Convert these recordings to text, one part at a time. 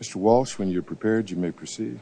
Mr. Walsh, when you're prepared, you may proceed.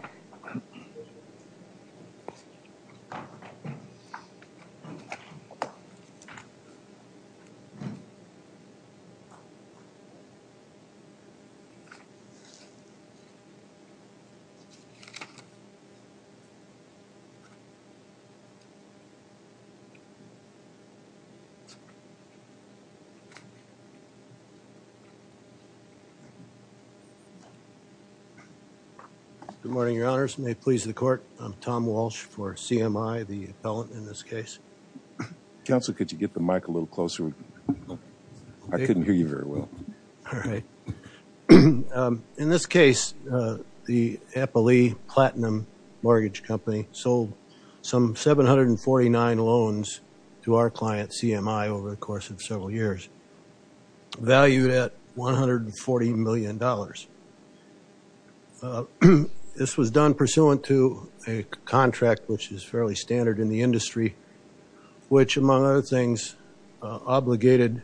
Good morning, Your Honors. May it please the Court, I'm Tom Walsh for CMI, the appellant in this case. Counsel, could you get the mic a little closer? I couldn't hear you very well. All right. In this case, the Appley Platinum Mortgage Company sold some 749 loans to our client, CMI, over the course of several years, valued at $140 million. This was done pursuant to a contract, which is fairly standard in the industry, which, among other things, obligated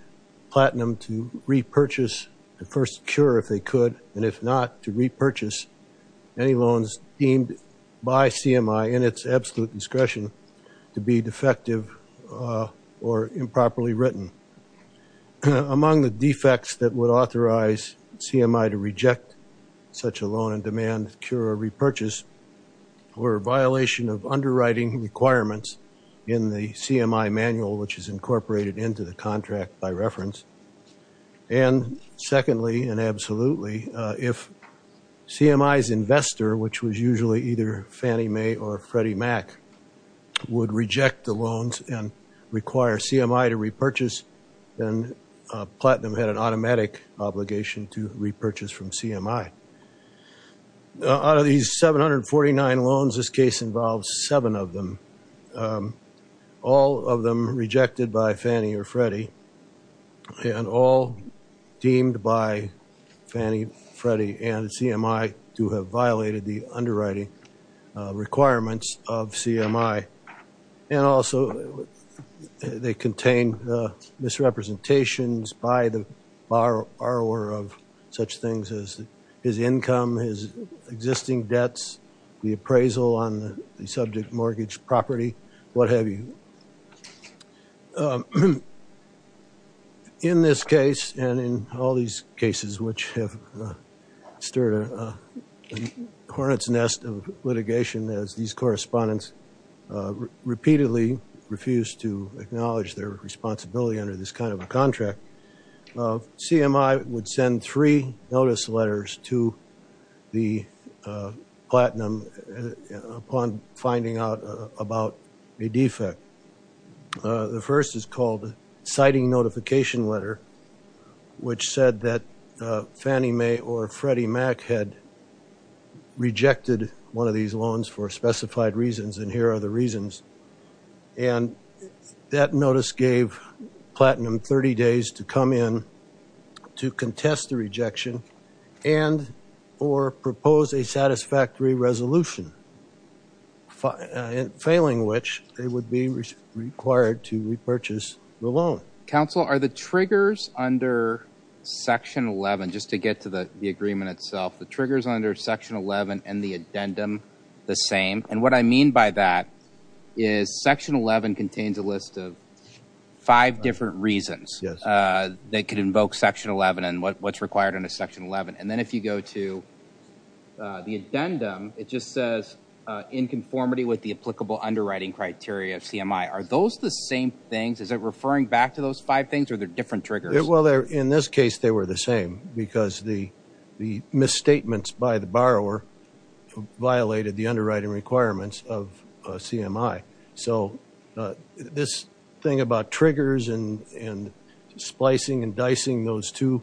Platinum to repurchase and first secure, if they could, and if not, to repurchase any loans deemed by CMI in its absolute discretion to be defective or improperly written. Among the defects that would authorize CMI to reject such a loan and demand to secure a repurchase were a violation of underwriting requirements in the CMI manual, which is incorporated into the contract by reference, and secondly, and absolutely, if CMI's investor, which was our client, required CMI to repurchase, then Platinum had an automatic obligation to repurchase from CMI. Out of these 749 loans, this case involves seven of them, all of them rejected by Fannie or Freddie, and all deemed by Fannie, Freddie, and CMI to have violated the underwriting requirements of CMI, and also they contain misrepresentations by the borrower of such things as his income, his existing debts, the appraisal on the subject mortgage property, what have you. In this case, and in all these cases which have stirred a hornet's nest of litigation as these correspondents repeatedly refuse to acknowledge their responsibility under this kind of a contract, CMI would send three notice letters to the Platinum upon finding out about a defect. The first is called citing notification letter, which said that Fannie Mae or Freddie Mac had rejected one of these loans for specified reasons, and here are the reasons, and that notice gave Platinum 30 days to come in to contest the rejection and or propose a satisfactory resolution, failing which they would be required to repurchase the loan. Counsel, are the triggers under section 11, just to get to the agreement itself, the triggers under section 11 and the addendum the same? And what I mean by that is section 11 contains a list of five different reasons that could it just says in conformity with the applicable underwriting criteria of CMI, are those the same things? Is it referring back to those five things or are there different triggers? In this case, they were the same because the misstatements by the borrower violated the underwriting requirements of CMI, so this thing about triggers and splicing and dicing those two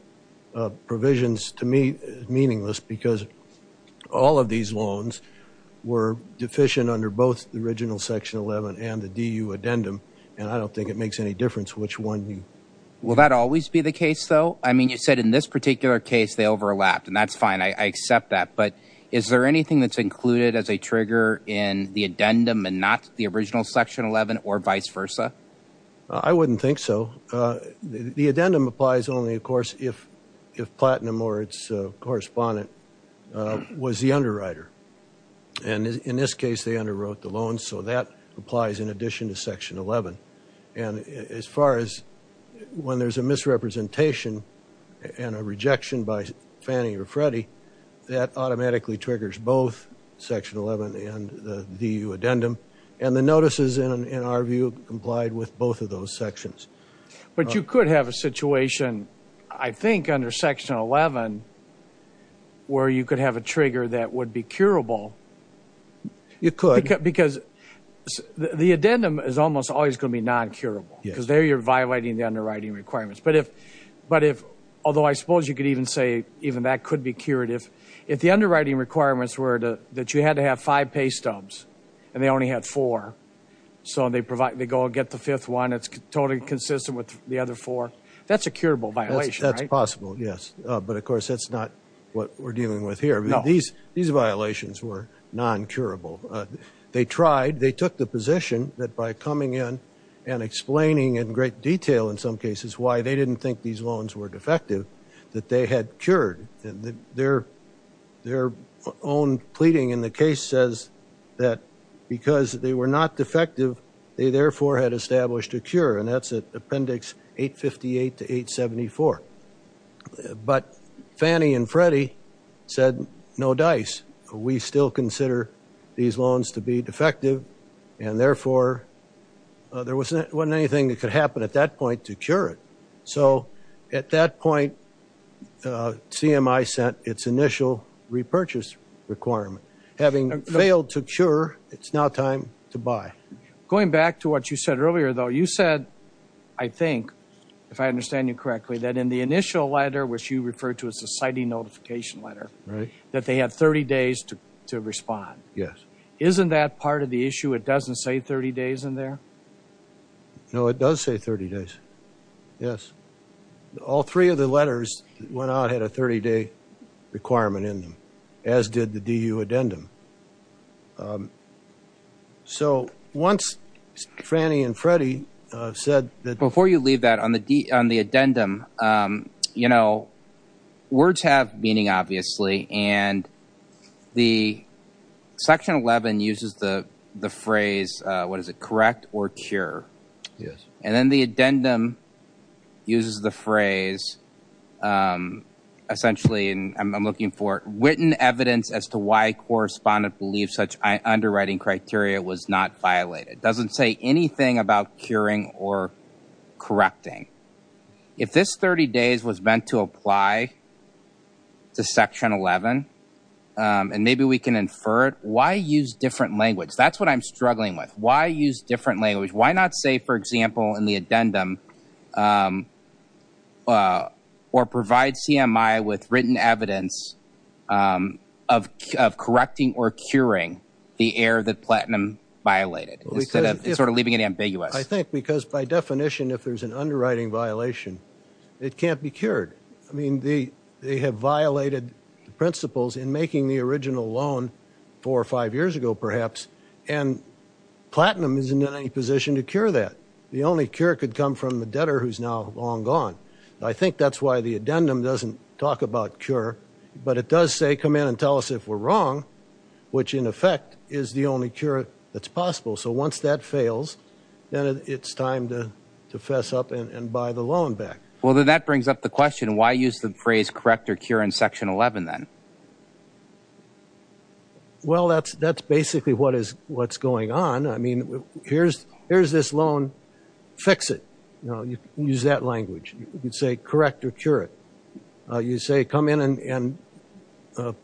provisions to me is meaningless because all of these loans were deficient under both the original section 11 and the DU addendum, and I don't think it makes any difference which one. Will that always be the case though? I mean you said in this particular case they overlapped, and that's fine, I accept that, but is there anything that's included as a trigger in the addendum and not the original section 11 or vice versa? I wouldn't think so. The addendum applies only of course if Platinum or its correspondent was the underwriter, and in this case they underwrote the loan, so that applies in addition to section 11, and as far as when there's a misrepresentation and a rejection by Fannie or Freddie, that automatically triggers both section 11 and the DU addendum, and the notices in our view complied with both of those sections. But you could have a situation, I think under section 11, where you could have a trigger that would be curable. You could. Because the addendum is almost always going to be non-curable, because there you're violating the underwriting requirements, but if, although I suppose you could even say even that could be cured, if the underwriting requirements were that you had to have five pay stubs and they only had four, so they go and get the fifth one, it's totally consistent with the other four, that's a curable violation, right? That's possible, yes. But of course that's not what we're dealing with here. These violations were non-curable. They tried, they took the position that by coming in and explaining in great detail in some cases why they didn't think these loans were defective, that they had cured. Their own pleading in the case says that because they were not defective, they therefore had established a cure, and that's at appendix 858 to 874. But Fannie and Freddie said, no dice. We still consider these loans to be defective, and therefore there wasn't anything that could happen at that point to cure it. So at that point, CMI sent its initial repurchase requirement. Having failed to cure, it's now time to buy. Going back to what you said earlier, though, you said, I think, if I understand you correctly, that in the initial letter, which you referred to as the citing notification letter, that they had 30 days to respond. Yes. Isn't that part of the issue? It doesn't say 30 days in there? No, it does say 30 days. Yes. All three of the letters went out, had a 30-day requirement in them, as did the DU addendum. So once Fannie and Freddie said that... Before you leave that, on the addendum, you know, words have meaning, obviously, and the Section 11 uses the phrase, what is it, correct or cure? Yes. And then the addendum uses the phrase, essentially, and I'm looking for, written evidence as to why a correspondent believes such underwriting criteria was not violated. Doesn't say anything about curing or correcting. If this 30 days was meant to apply to Section 11, and maybe we can infer it, why use different language? That's what I'm struggling with. Why use different language? Why not say, for example, in the addendum, or provide CMI with written evidence of correcting or curing the error that platinum violated, instead of sort of leaving it ambiguous? I think because, by definition, if there's an underwriting violation, it can't be cured. I mean, they have violated the principles in making the original loan four or five years ago, perhaps, and platinum isn't in any position to cure that. The only cure could come from the debtor who's now long gone. I think that's why the addendum doesn't talk about cure, but it does say, come in and tell us if we're wrong, which, in effect, is the only cure that's possible. So once that fails, then it's time to fess up and buy the loan back. Well, then that brings up the question, why use the phrase, correct or cure, in Section 11, then? Well, that's basically what's going on. I mean, here's this loan. Fix it. You can use that language. You can say, correct or cure it. You say, come in and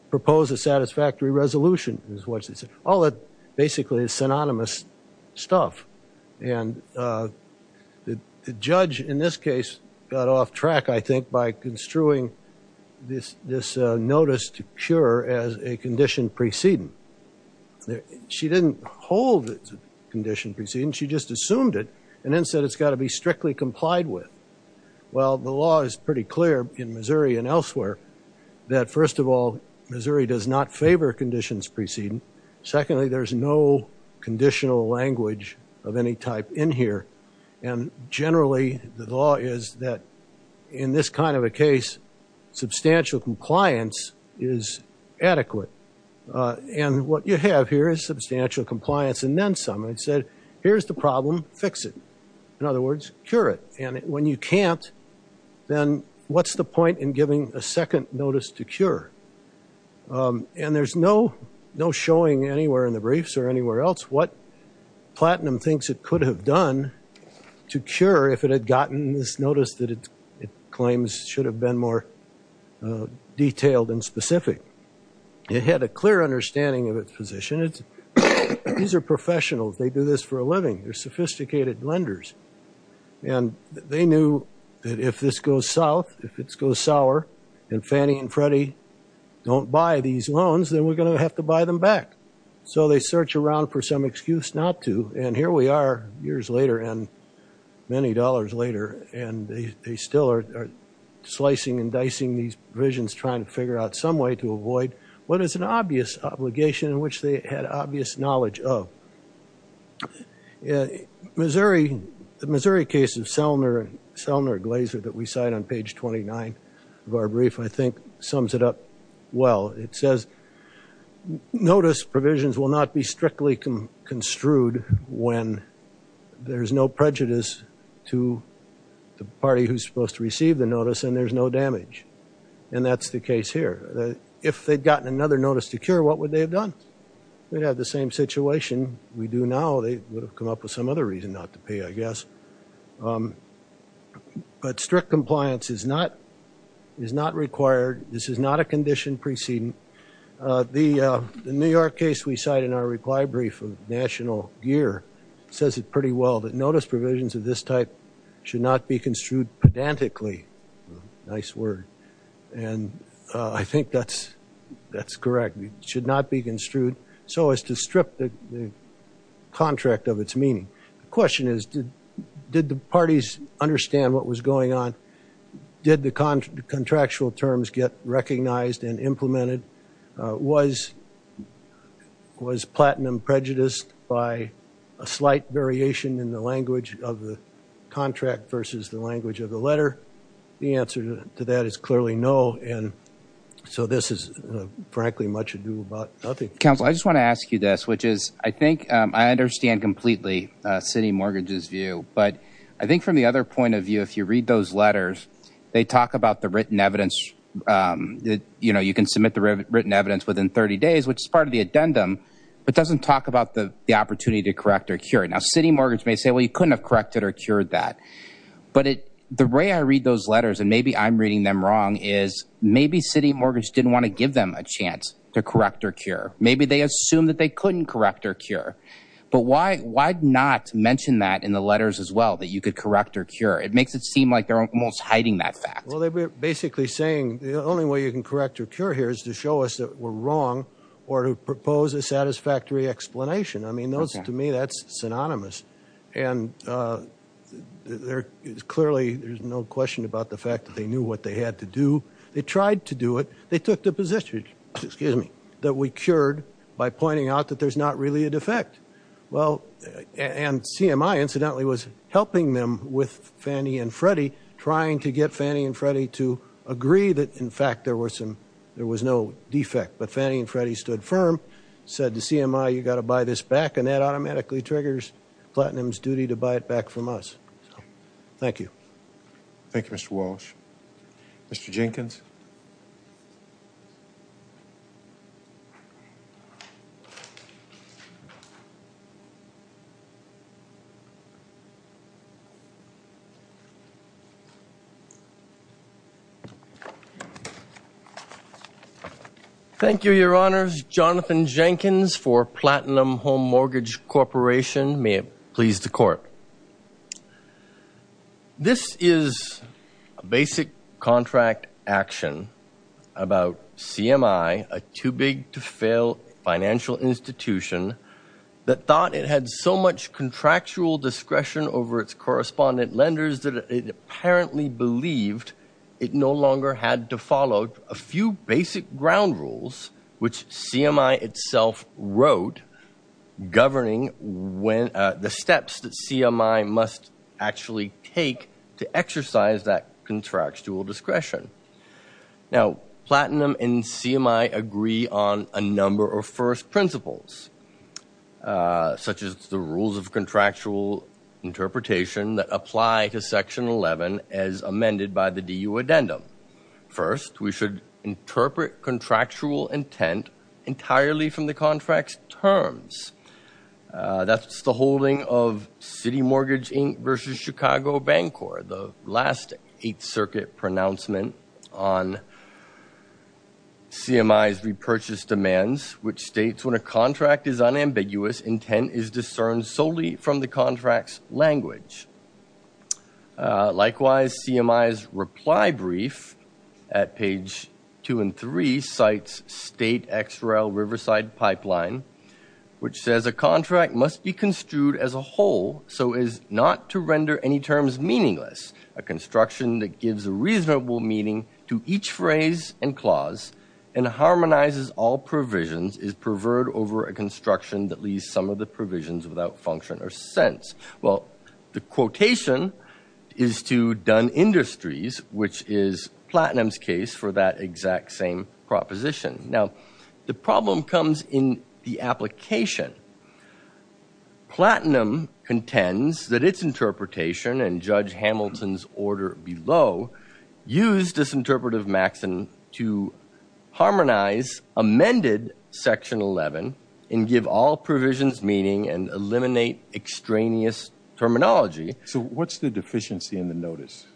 propose a satisfactory resolution, is what they say. All that, basically, is synonymous stuff. And the judge, in this case, got off track, I think, by construing this notice to cure as a condition preceding. She didn't hold it's a condition preceding. She just assumed it, and then said it's got to be strictly complied with. Well, the law is pretty clear in Missouri and elsewhere that, first of all, Missouri does not favor conditions preceding. And secondly, there's no conditional language of any type in here. And generally, the law is that, in this kind of a case, substantial compliance is adequate. And what you have here is substantial compliance. And then someone said, here's the problem. Fix it. In other words, cure it. And when you can't, then what's the point in giving a second notice to cure? And there's no showing anywhere in the briefs or anywhere else what Platinum thinks it could have done to cure if it had gotten this notice that it claims should have been more detailed and specific. It had a clear understanding of its position. These are professionals. They do this for a living. They're sophisticated lenders. And they knew that if this goes south, if it goes sour, and Fannie and Freddie don't buy these loans, then we're going to have to buy them back. So they search around for some excuse not to. And here we are, years later and many dollars later, and they still are slicing and dicing these provisions, trying to figure out some way to avoid what is an obvious obligation in which they had obvious knowledge of. The Missouri case of Selner and Selner-Glaser that we cite on page 29 of our brief, I think, sums it up well. It says notice provisions will not be strictly construed when there's no prejudice to the party who's supposed to receive the notice and there's no damage. And that's the case here. If they'd gotten another notice to cure, what would they have done? They'd have the same situation we do now. They would have come up with some other reason not to pay, I guess. But strict compliance is not required. This is not a condition preceding. The New York case we cite in our reply brief of national gear says it pretty well, that notice provisions of this type should not be construed pedantically. Nice word. And I think that's correct. Should not be construed so as to strip the contract of its meaning. Question is, did the parties understand what was going on? Did the contractual terms get recognized and implemented? Was platinum prejudiced by a slight variation in the language of the contract versus the language of the letter? The answer to that is clearly no. And so this is frankly much ado about nothing. Counsel, I just want to ask you this, which is I think I understand completely city mortgages view, but I think from the other point of view, if you read those letters, they talk about the written evidence that, you know, you can submit the written evidence within 30 days, which is part of the addendum, but doesn't talk about the opportunity to correct or cure it. Now, city mortgage may say, well, you couldn't have corrected or cured that. But the way I read those letters, and maybe I'm reading them wrong, is maybe city mortgage didn't want to give them a chance to correct or cure. Maybe they assumed that they couldn't correct or cure. But why not mention that in the letters as well, that you could correct or cure? It makes it seem like they're almost hiding that fact. Well, they're basically saying the only way you can correct or cure here is to show us that we're wrong or to propose a satisfactory explanation. I mean, to me, that's synonymous. And there is clearly, there's no question about the fact that they knew what they had to do. They tried to do it. They took the position, excuse me, that we cured by pointing out that there's not really a defect. Well, and CMI, incidentally, was helping them with Fannie and Freddie, trying to get Fannie and Freddie to agree that, in fact, there was no defect. But Fannie and Freddie stood firm, said to CMI, you've got to buy this back, and that Platinum's duty to buy it back from us. Thank you. Thank you, Mr. Walsh. Mr. Jenkins. Thank you, Your Honors. My name is Jonathan Jenkins for Platinum Home Mortgage Corporation. May it please the Court. This is a basic contract action about CMI, a too-big-to-fail financial institution that thought it had so much contractual discretion over its correspondent lenders that it apparently believed it no longer had to follow a few basic ground rules, which CMI itself wrote, governing the steps that CMI must actually take to exercise that contractual discretion. Now, Platinum and CMI agree on a number of first principles, such as the rules of contractual interpretation that apply to Section 11 as amended by the DU addendum. First, we should interpret contractual intent entirely from the contract's terms. That's the holding of City Mortgage, Inc. v. Chicago Bancorp, the last Eighth Circuit pronouncement on CMI's repurchase demands, which states, when a contract is unambiguous, intent is discerned solely from the contract's language. Likewise, CMI's reply brief at page 2 and 3 cites State XRL Riverside Pipeline, which says, a contract must be construed as a whole so as not to render any terms meaningless. A construction that gives a reasonable meaning to each phrase and clause and harmonizes all construction that leaves some of the provisions without function or sense. Well, the quotation is to Dunn Industries, which is Platinum's case for that exact same proposition. Now, the problem comes in the application. Platinum contends that its interpretation and Judge Hamilton's order below use disinterpretive maxim to harmonize amended Section 11 and give all provisions meaning and eliminate extraneous terminology. So what's the deficiency in the notice?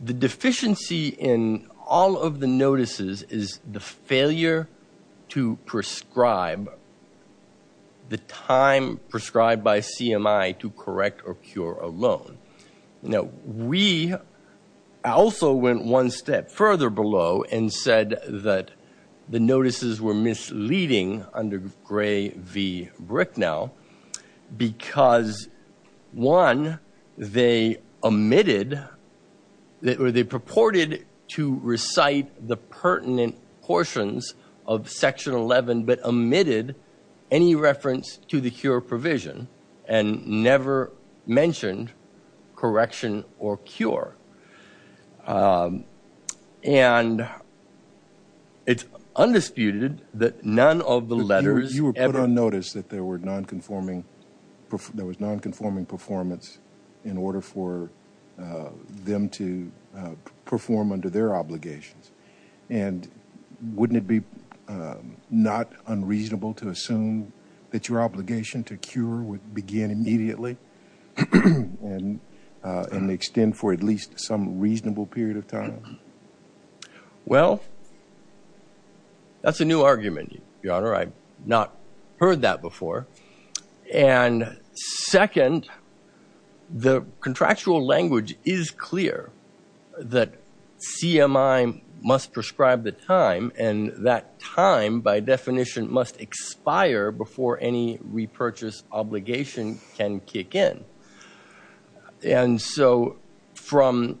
The deficiency in all of the notices is the failure to prescribe the time prescribed by CMI to correct or cure a loan. Now, we also went one step further below and said that the notices were misleading under Gray v. Bricknell because, one, they omitted or they purported to recite the pertinent portions of correction or cure. And it's undisputed that none of the letters ever. You were put on notice that there was nonconforming performance in order for them to perform under their obligations. And wouldn't it be not unreasonable to assume that your obligation to cure would begin immediately? And extend for at least some reasonable period of time? Well, that's a new argument, Your Honor. I've not heard that before. And second, the contractual language is clear that CMI must prescribe the time and that time, by definition, must expire before any repurchase obligation can kick in. And so from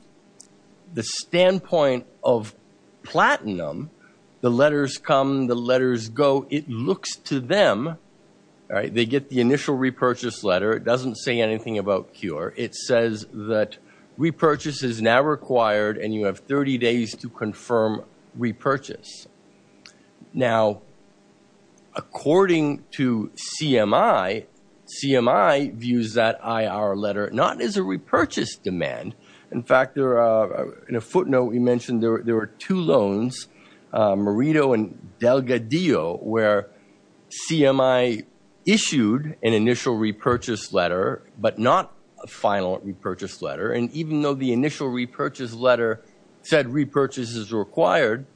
the standpoint of platinum, the letters come, the letters go. It looks to them, all right, they get the initial repurchase letter. It doesn't say anything about cure. It says that repurchase is now required and you have 30 days to confirm repurchase. Now, according to CMI, CMI views that IR letter not as a repurchase demand. In fact, in a footnote, we mentioned there were two loans, Merido and Delgadillo, where CMI issued an initial repurchase letter, but not a final repurchase letter. And even though the initial repurchase letter said repurchase is required,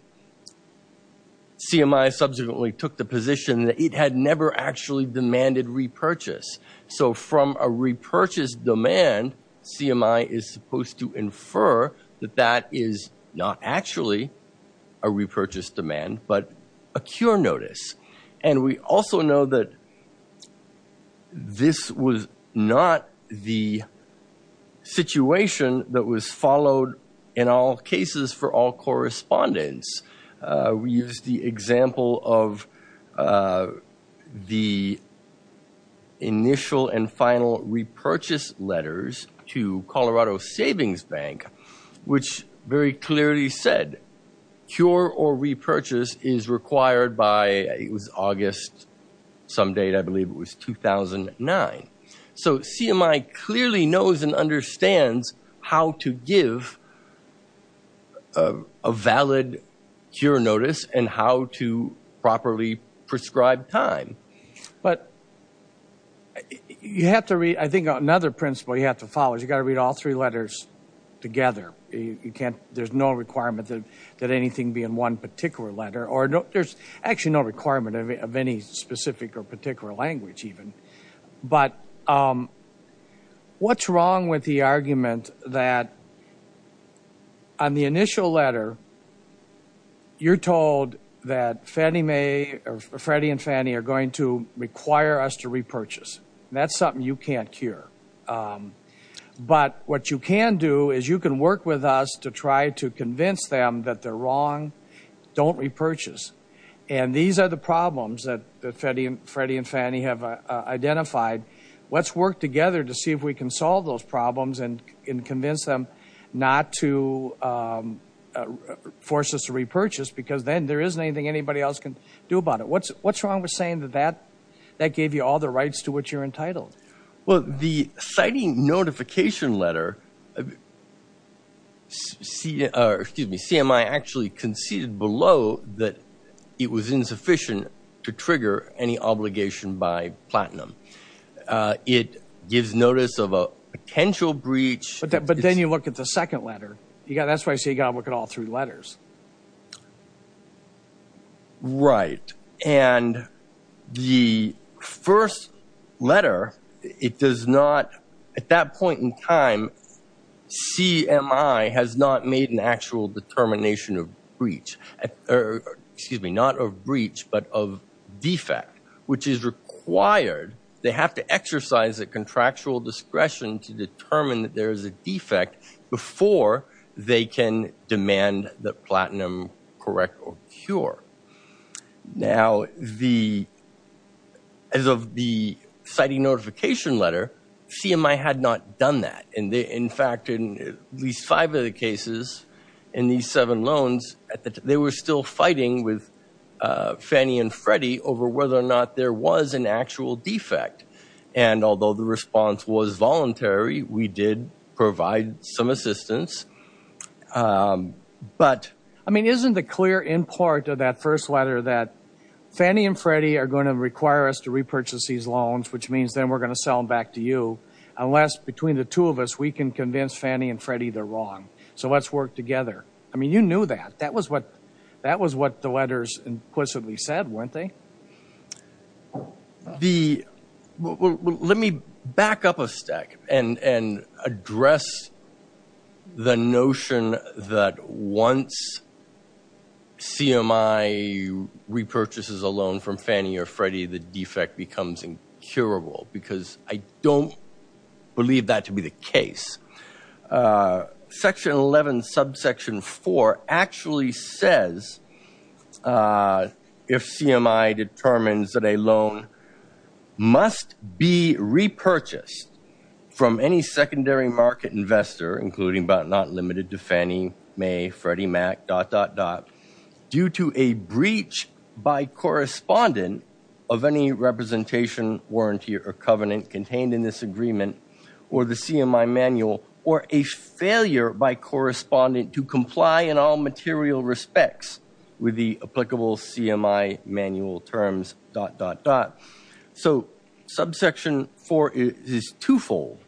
CMI subsequently took the position that it had never actually demanded repurchase. So from a repurchase demand, CMI is supposed to infer that that is not actually a repurchase demand, but a cure notice. And we also know that this was not the situation that was followed in all cases for all correspondents. We used the example of the initial and final repurchase letters to Colorado Savings Bank, which very clearly said cure or repurchase is required by, it was August some date, I believe it was 2009. So CMI clearly knows and understands how to give a valid cure notice and how to properly prescribe time. But you have to read, I think another principle you have to follow is you got to read all three letters together. There's no requirement that anything be in one particular letter, or there's actually no requirement of any specific or particular language even. But what's wrong with the argument that on the initial letter, you're told that Freddie and Fannie are going to require us to repurchase. That's something you can't cure. But what you can do is you can work with us to try to convince them that they're wrong. Don't repurchase. And these are the problems that Freddie and Fannie have identified. Let's work together to see if we can solve those problems and convince them not to force us to repurchase because then there isn't anything anybody else can do about it. What's wrong with saying that that gave you all the rights to which you're entitled? Well, the citing notification letter, CMI actually conceded below that it was insufficient to trigger any obligation by Platinum. It gives notice of a potential breach. But then you look at the second letter. That's why I say you got to look at all three letters. Right. And the first letter, it does not, at that point in time, CMI has not made an actual determination of breach, excuse me, not of breach, but of defect, which is required. They have to exercise a contractual discretion to determine that there is a defect before they can demand that Platinum correct or cure. Now, as of the citing notification letter, CMI had not done that. And in fact, in at least five of the cases in these seven loans, they were still fighting with Fannie and Freddie over whether or not there was an actual defect. And although the response was voluntary, we did provide some assistance. But I mean, isn't it clear in part of that first letter that Fannie and Freddie are going to require us to repurchase these loans, which means then we're going to sell them back to you, unless between the two of us, we can convince Fannie and Freddie they're wrong. So let's work together. I mean, you knew that. That was what the letters implicitly said, weren't they? So let me back up a stack and address the notion that once CMI repurchases a loan from Fannie or Freddie, the defect becomes incurable, because I don't believe that to be the case. Section 11, subsection 4 actually says if CMI determines that a loan must be repurchased from any secondary market investor, including but not limited to Fannie, Mae, Freddie, Mac, dot, dot, dot, due to a breach by correspondent of any representation, warranty, or covenant contained in this agreement, or the CMI manual, or a failure by correspondent to comply in all material respects with the applicable CMI manual terms, dot, dot, dot. So subsection 4 is twofold.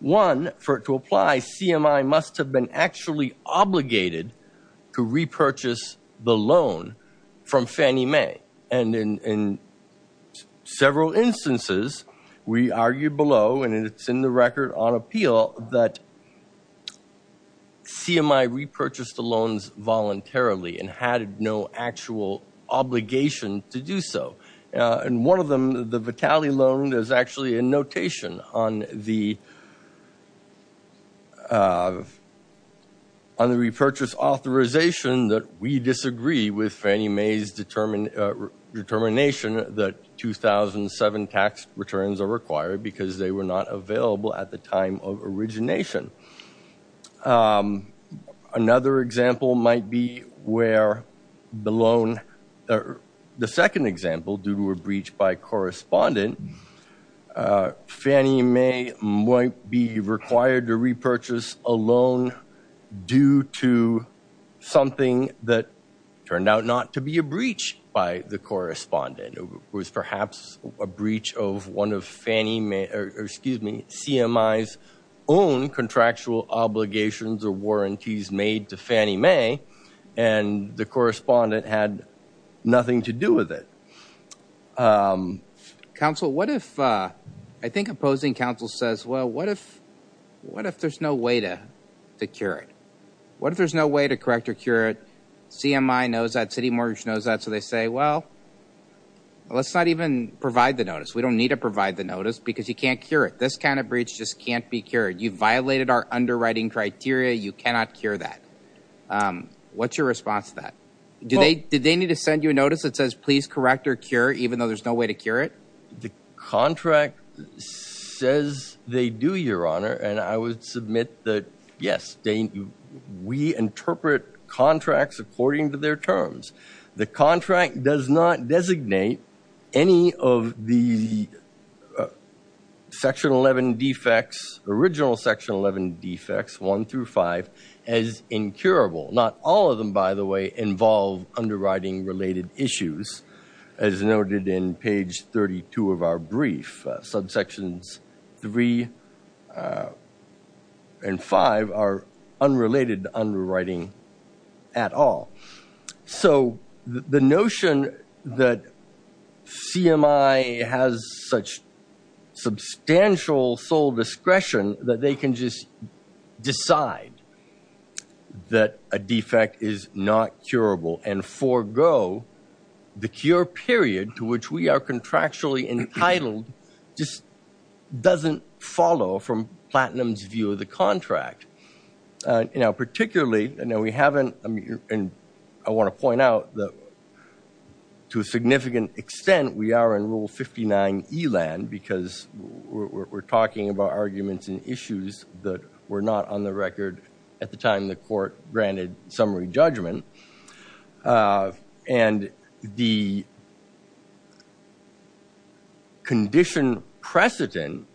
One, for it to apply, CMI must have been actually obligated to repurchase the loan from Fannie Mae. And in several instances, we argued below, and it's in the record on appeal, that CMI repurchased the loans voluntarily and had no actual obligation to do so. And one of them, the Vitali loan, is actually a notation on the repurchase authorization that we disagree with Fannie Mae's determination that 2007 tax returns are required, because they were not available at the time of origination. Another example might be where the loan, or the second example, due to a breach by correspondent, Fannie Mae might be required to repurchase a loan due to something that turned out not to be a breach by the correspondent. It was perhaps a breach of one of Fannie Mae, or excuse me, CMI's own contractual obligations or warranties made to Fannie Mae, and the correspondent had nothing to do with it. Council, what if, I think opposing council says, well, what if there's no way to cure it? What if there's no way to correct or cure it? CMI knows that, City Mortgage knows that, so they say, well, let's not even provide the notice. We don't need to provide the notice, because you can't cure it. This kind of breach just can't be cured. You've violated our underwriting criteria. You cannot cure that. What's your response to that? Did they need to send you a notice that says, please correct or cure, even though there's no way to cure it? The contract says they do, Your Honor, and I would submit that, yes, we interpret contracts according to their terms. The contract does not designate any of the section 11 defects, original section 11 defects, 1 through 5, as incurable. Not all of them, by the way, involve underwriting-related issues, as noted in page 32 of our brief. Subsections 3 and 5 are unrelated to underwriting at all. So the notion that CMI has such substantial sole discretion that they can just decide that a defect is not curable and forego the cure period to which we are contractually entitled just doesn't follow from Platinum's view of the contract. You know, particularly, and I want to point out that to a significant extent we are in Rule 59 ELAN because we're talking about arguments and issues that were not on the record at the time the court granted summary judgment, and the condition precedent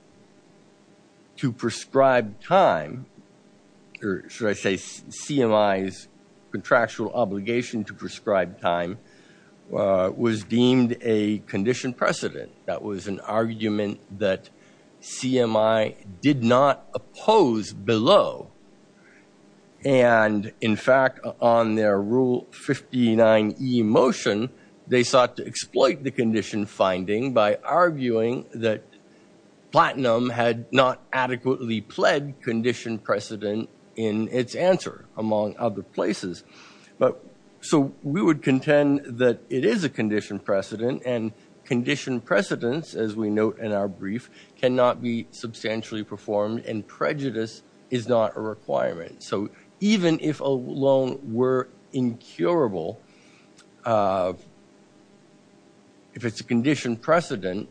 to prescribe time, or should I say CMI's contractual obligation to prescribe time, was deemed a condition precedent. That was an argument that CMI did not oppose below. And in fact, on their Rule 59E motion, they sought to exploit the condition finding by arguing that Platinum had not adequately pled condition precedent in its answer, among other places. So we would contend that it is a condition precedent, and condition precedents, as we note in our brief, cannot be substantially performed, and prejudice is not a requirement. So even if a loan were incurable, if it's a condition precedent,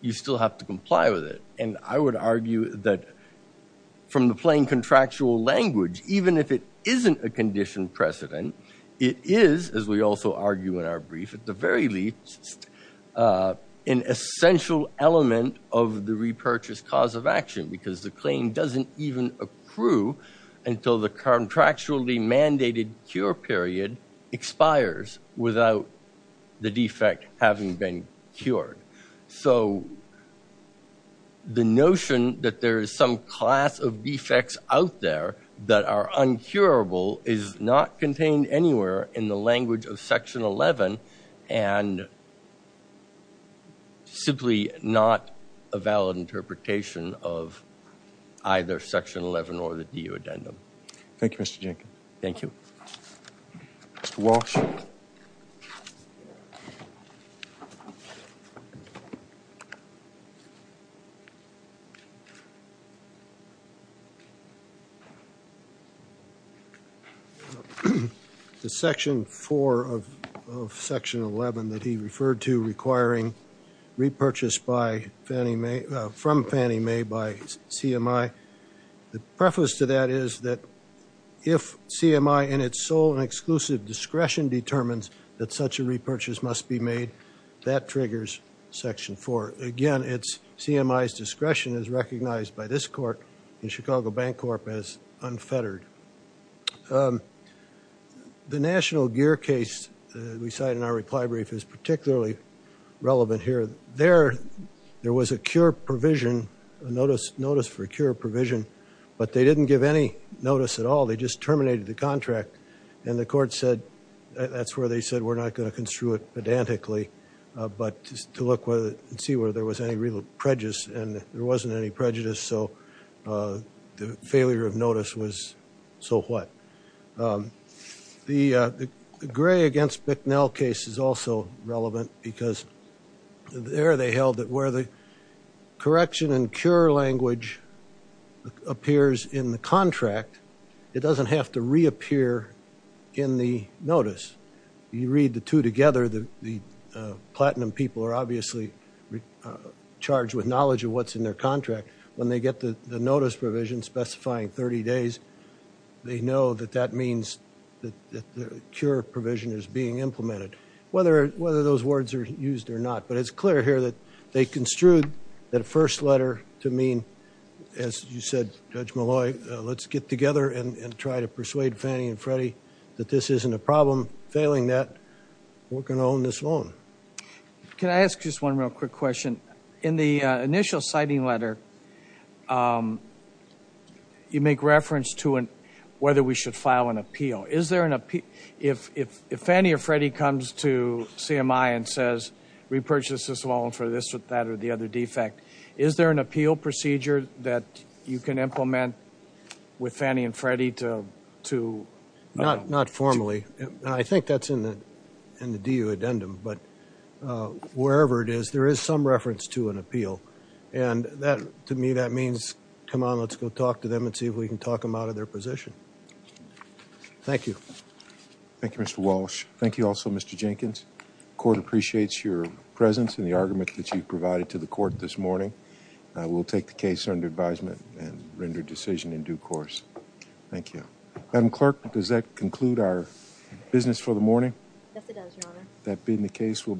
you still have to comply with it. And I would argue that from the plain contractual language, even if it isn't a condition precedent, it is, as we also argue in our brief, at the very least, an essential element of the repurchase cause of action, because the claim doesn't even accrue until the contractually mandated cure period expires without the defect having been cured. So the notion that there is some class of defects out there that are uncurable is not contained anywhere in the language of Section 11, and simply not a valid interpretation of either Section 11 or the DU addendum. Thank you, Mr. Jenkins. Thank you. Mr. Walsh. The Section 4 of Section 11 that he referred to requiring repurchase from Fannie Mae by CMI, the preface to that is that if CMI in its sole and exclusive discretion determines that such a repurchase must be made, that triggers Section 4. Again, CMI's discretion is recognized by this Chicago Bank Corp as unfettered. The National Gear case we cite in our reply brief is particularly relevant here. There was a cure provision, a notice for a cure provision, but they didn't give any notice at all. They just terminated the contract. And the court said, that's where they said, we're not going to construe it pedantically, but to look and see whether there was any real prejudice, and there wasn't any prejudice, so the failure of notice was, so what? The Gray against Bicknell case is also relevant, because there they held that where the correction and cure language appears in the contract, it doesn't have to reappear in the contract. When they get the notice provision specifying 30 days, they know that that means that the cure provision is being implemented, whether those words are used or not. But it's clear here that they construed that first letter to mean, as you said, Judge Malloy, let's get together and try to persuade Fannie and Freddie that this isn't a problem. Failing that, we're going to own this loan. Can I ask just one real quick question? In the initial citing letter, you make reference to whether we should file an appeal. Is there an appeal? If Fannie or Freddie comes to CMI and says, repurchase this loan for this, that, or the other defect, is there an appeal procedure that you can implement with Fannie and Freddie to... Not formally. I think that's in the DU addendum. But wherever it is, there is some reference to an appeal. And to me, that means, come on, let's go talk to them and see if we can talk them out of their position. Thank you. Thank you, Mr. Walsh. Thank you also, Mr. Jenkins. Court appreciates your presence and the argument that you've provided to the court this morning. We'll take the case under advisement and render decision in due course. Thank you. Madam Clerk, does that conclude our business for the morning? Yes, it does, Your Honor. That being the case, we'll...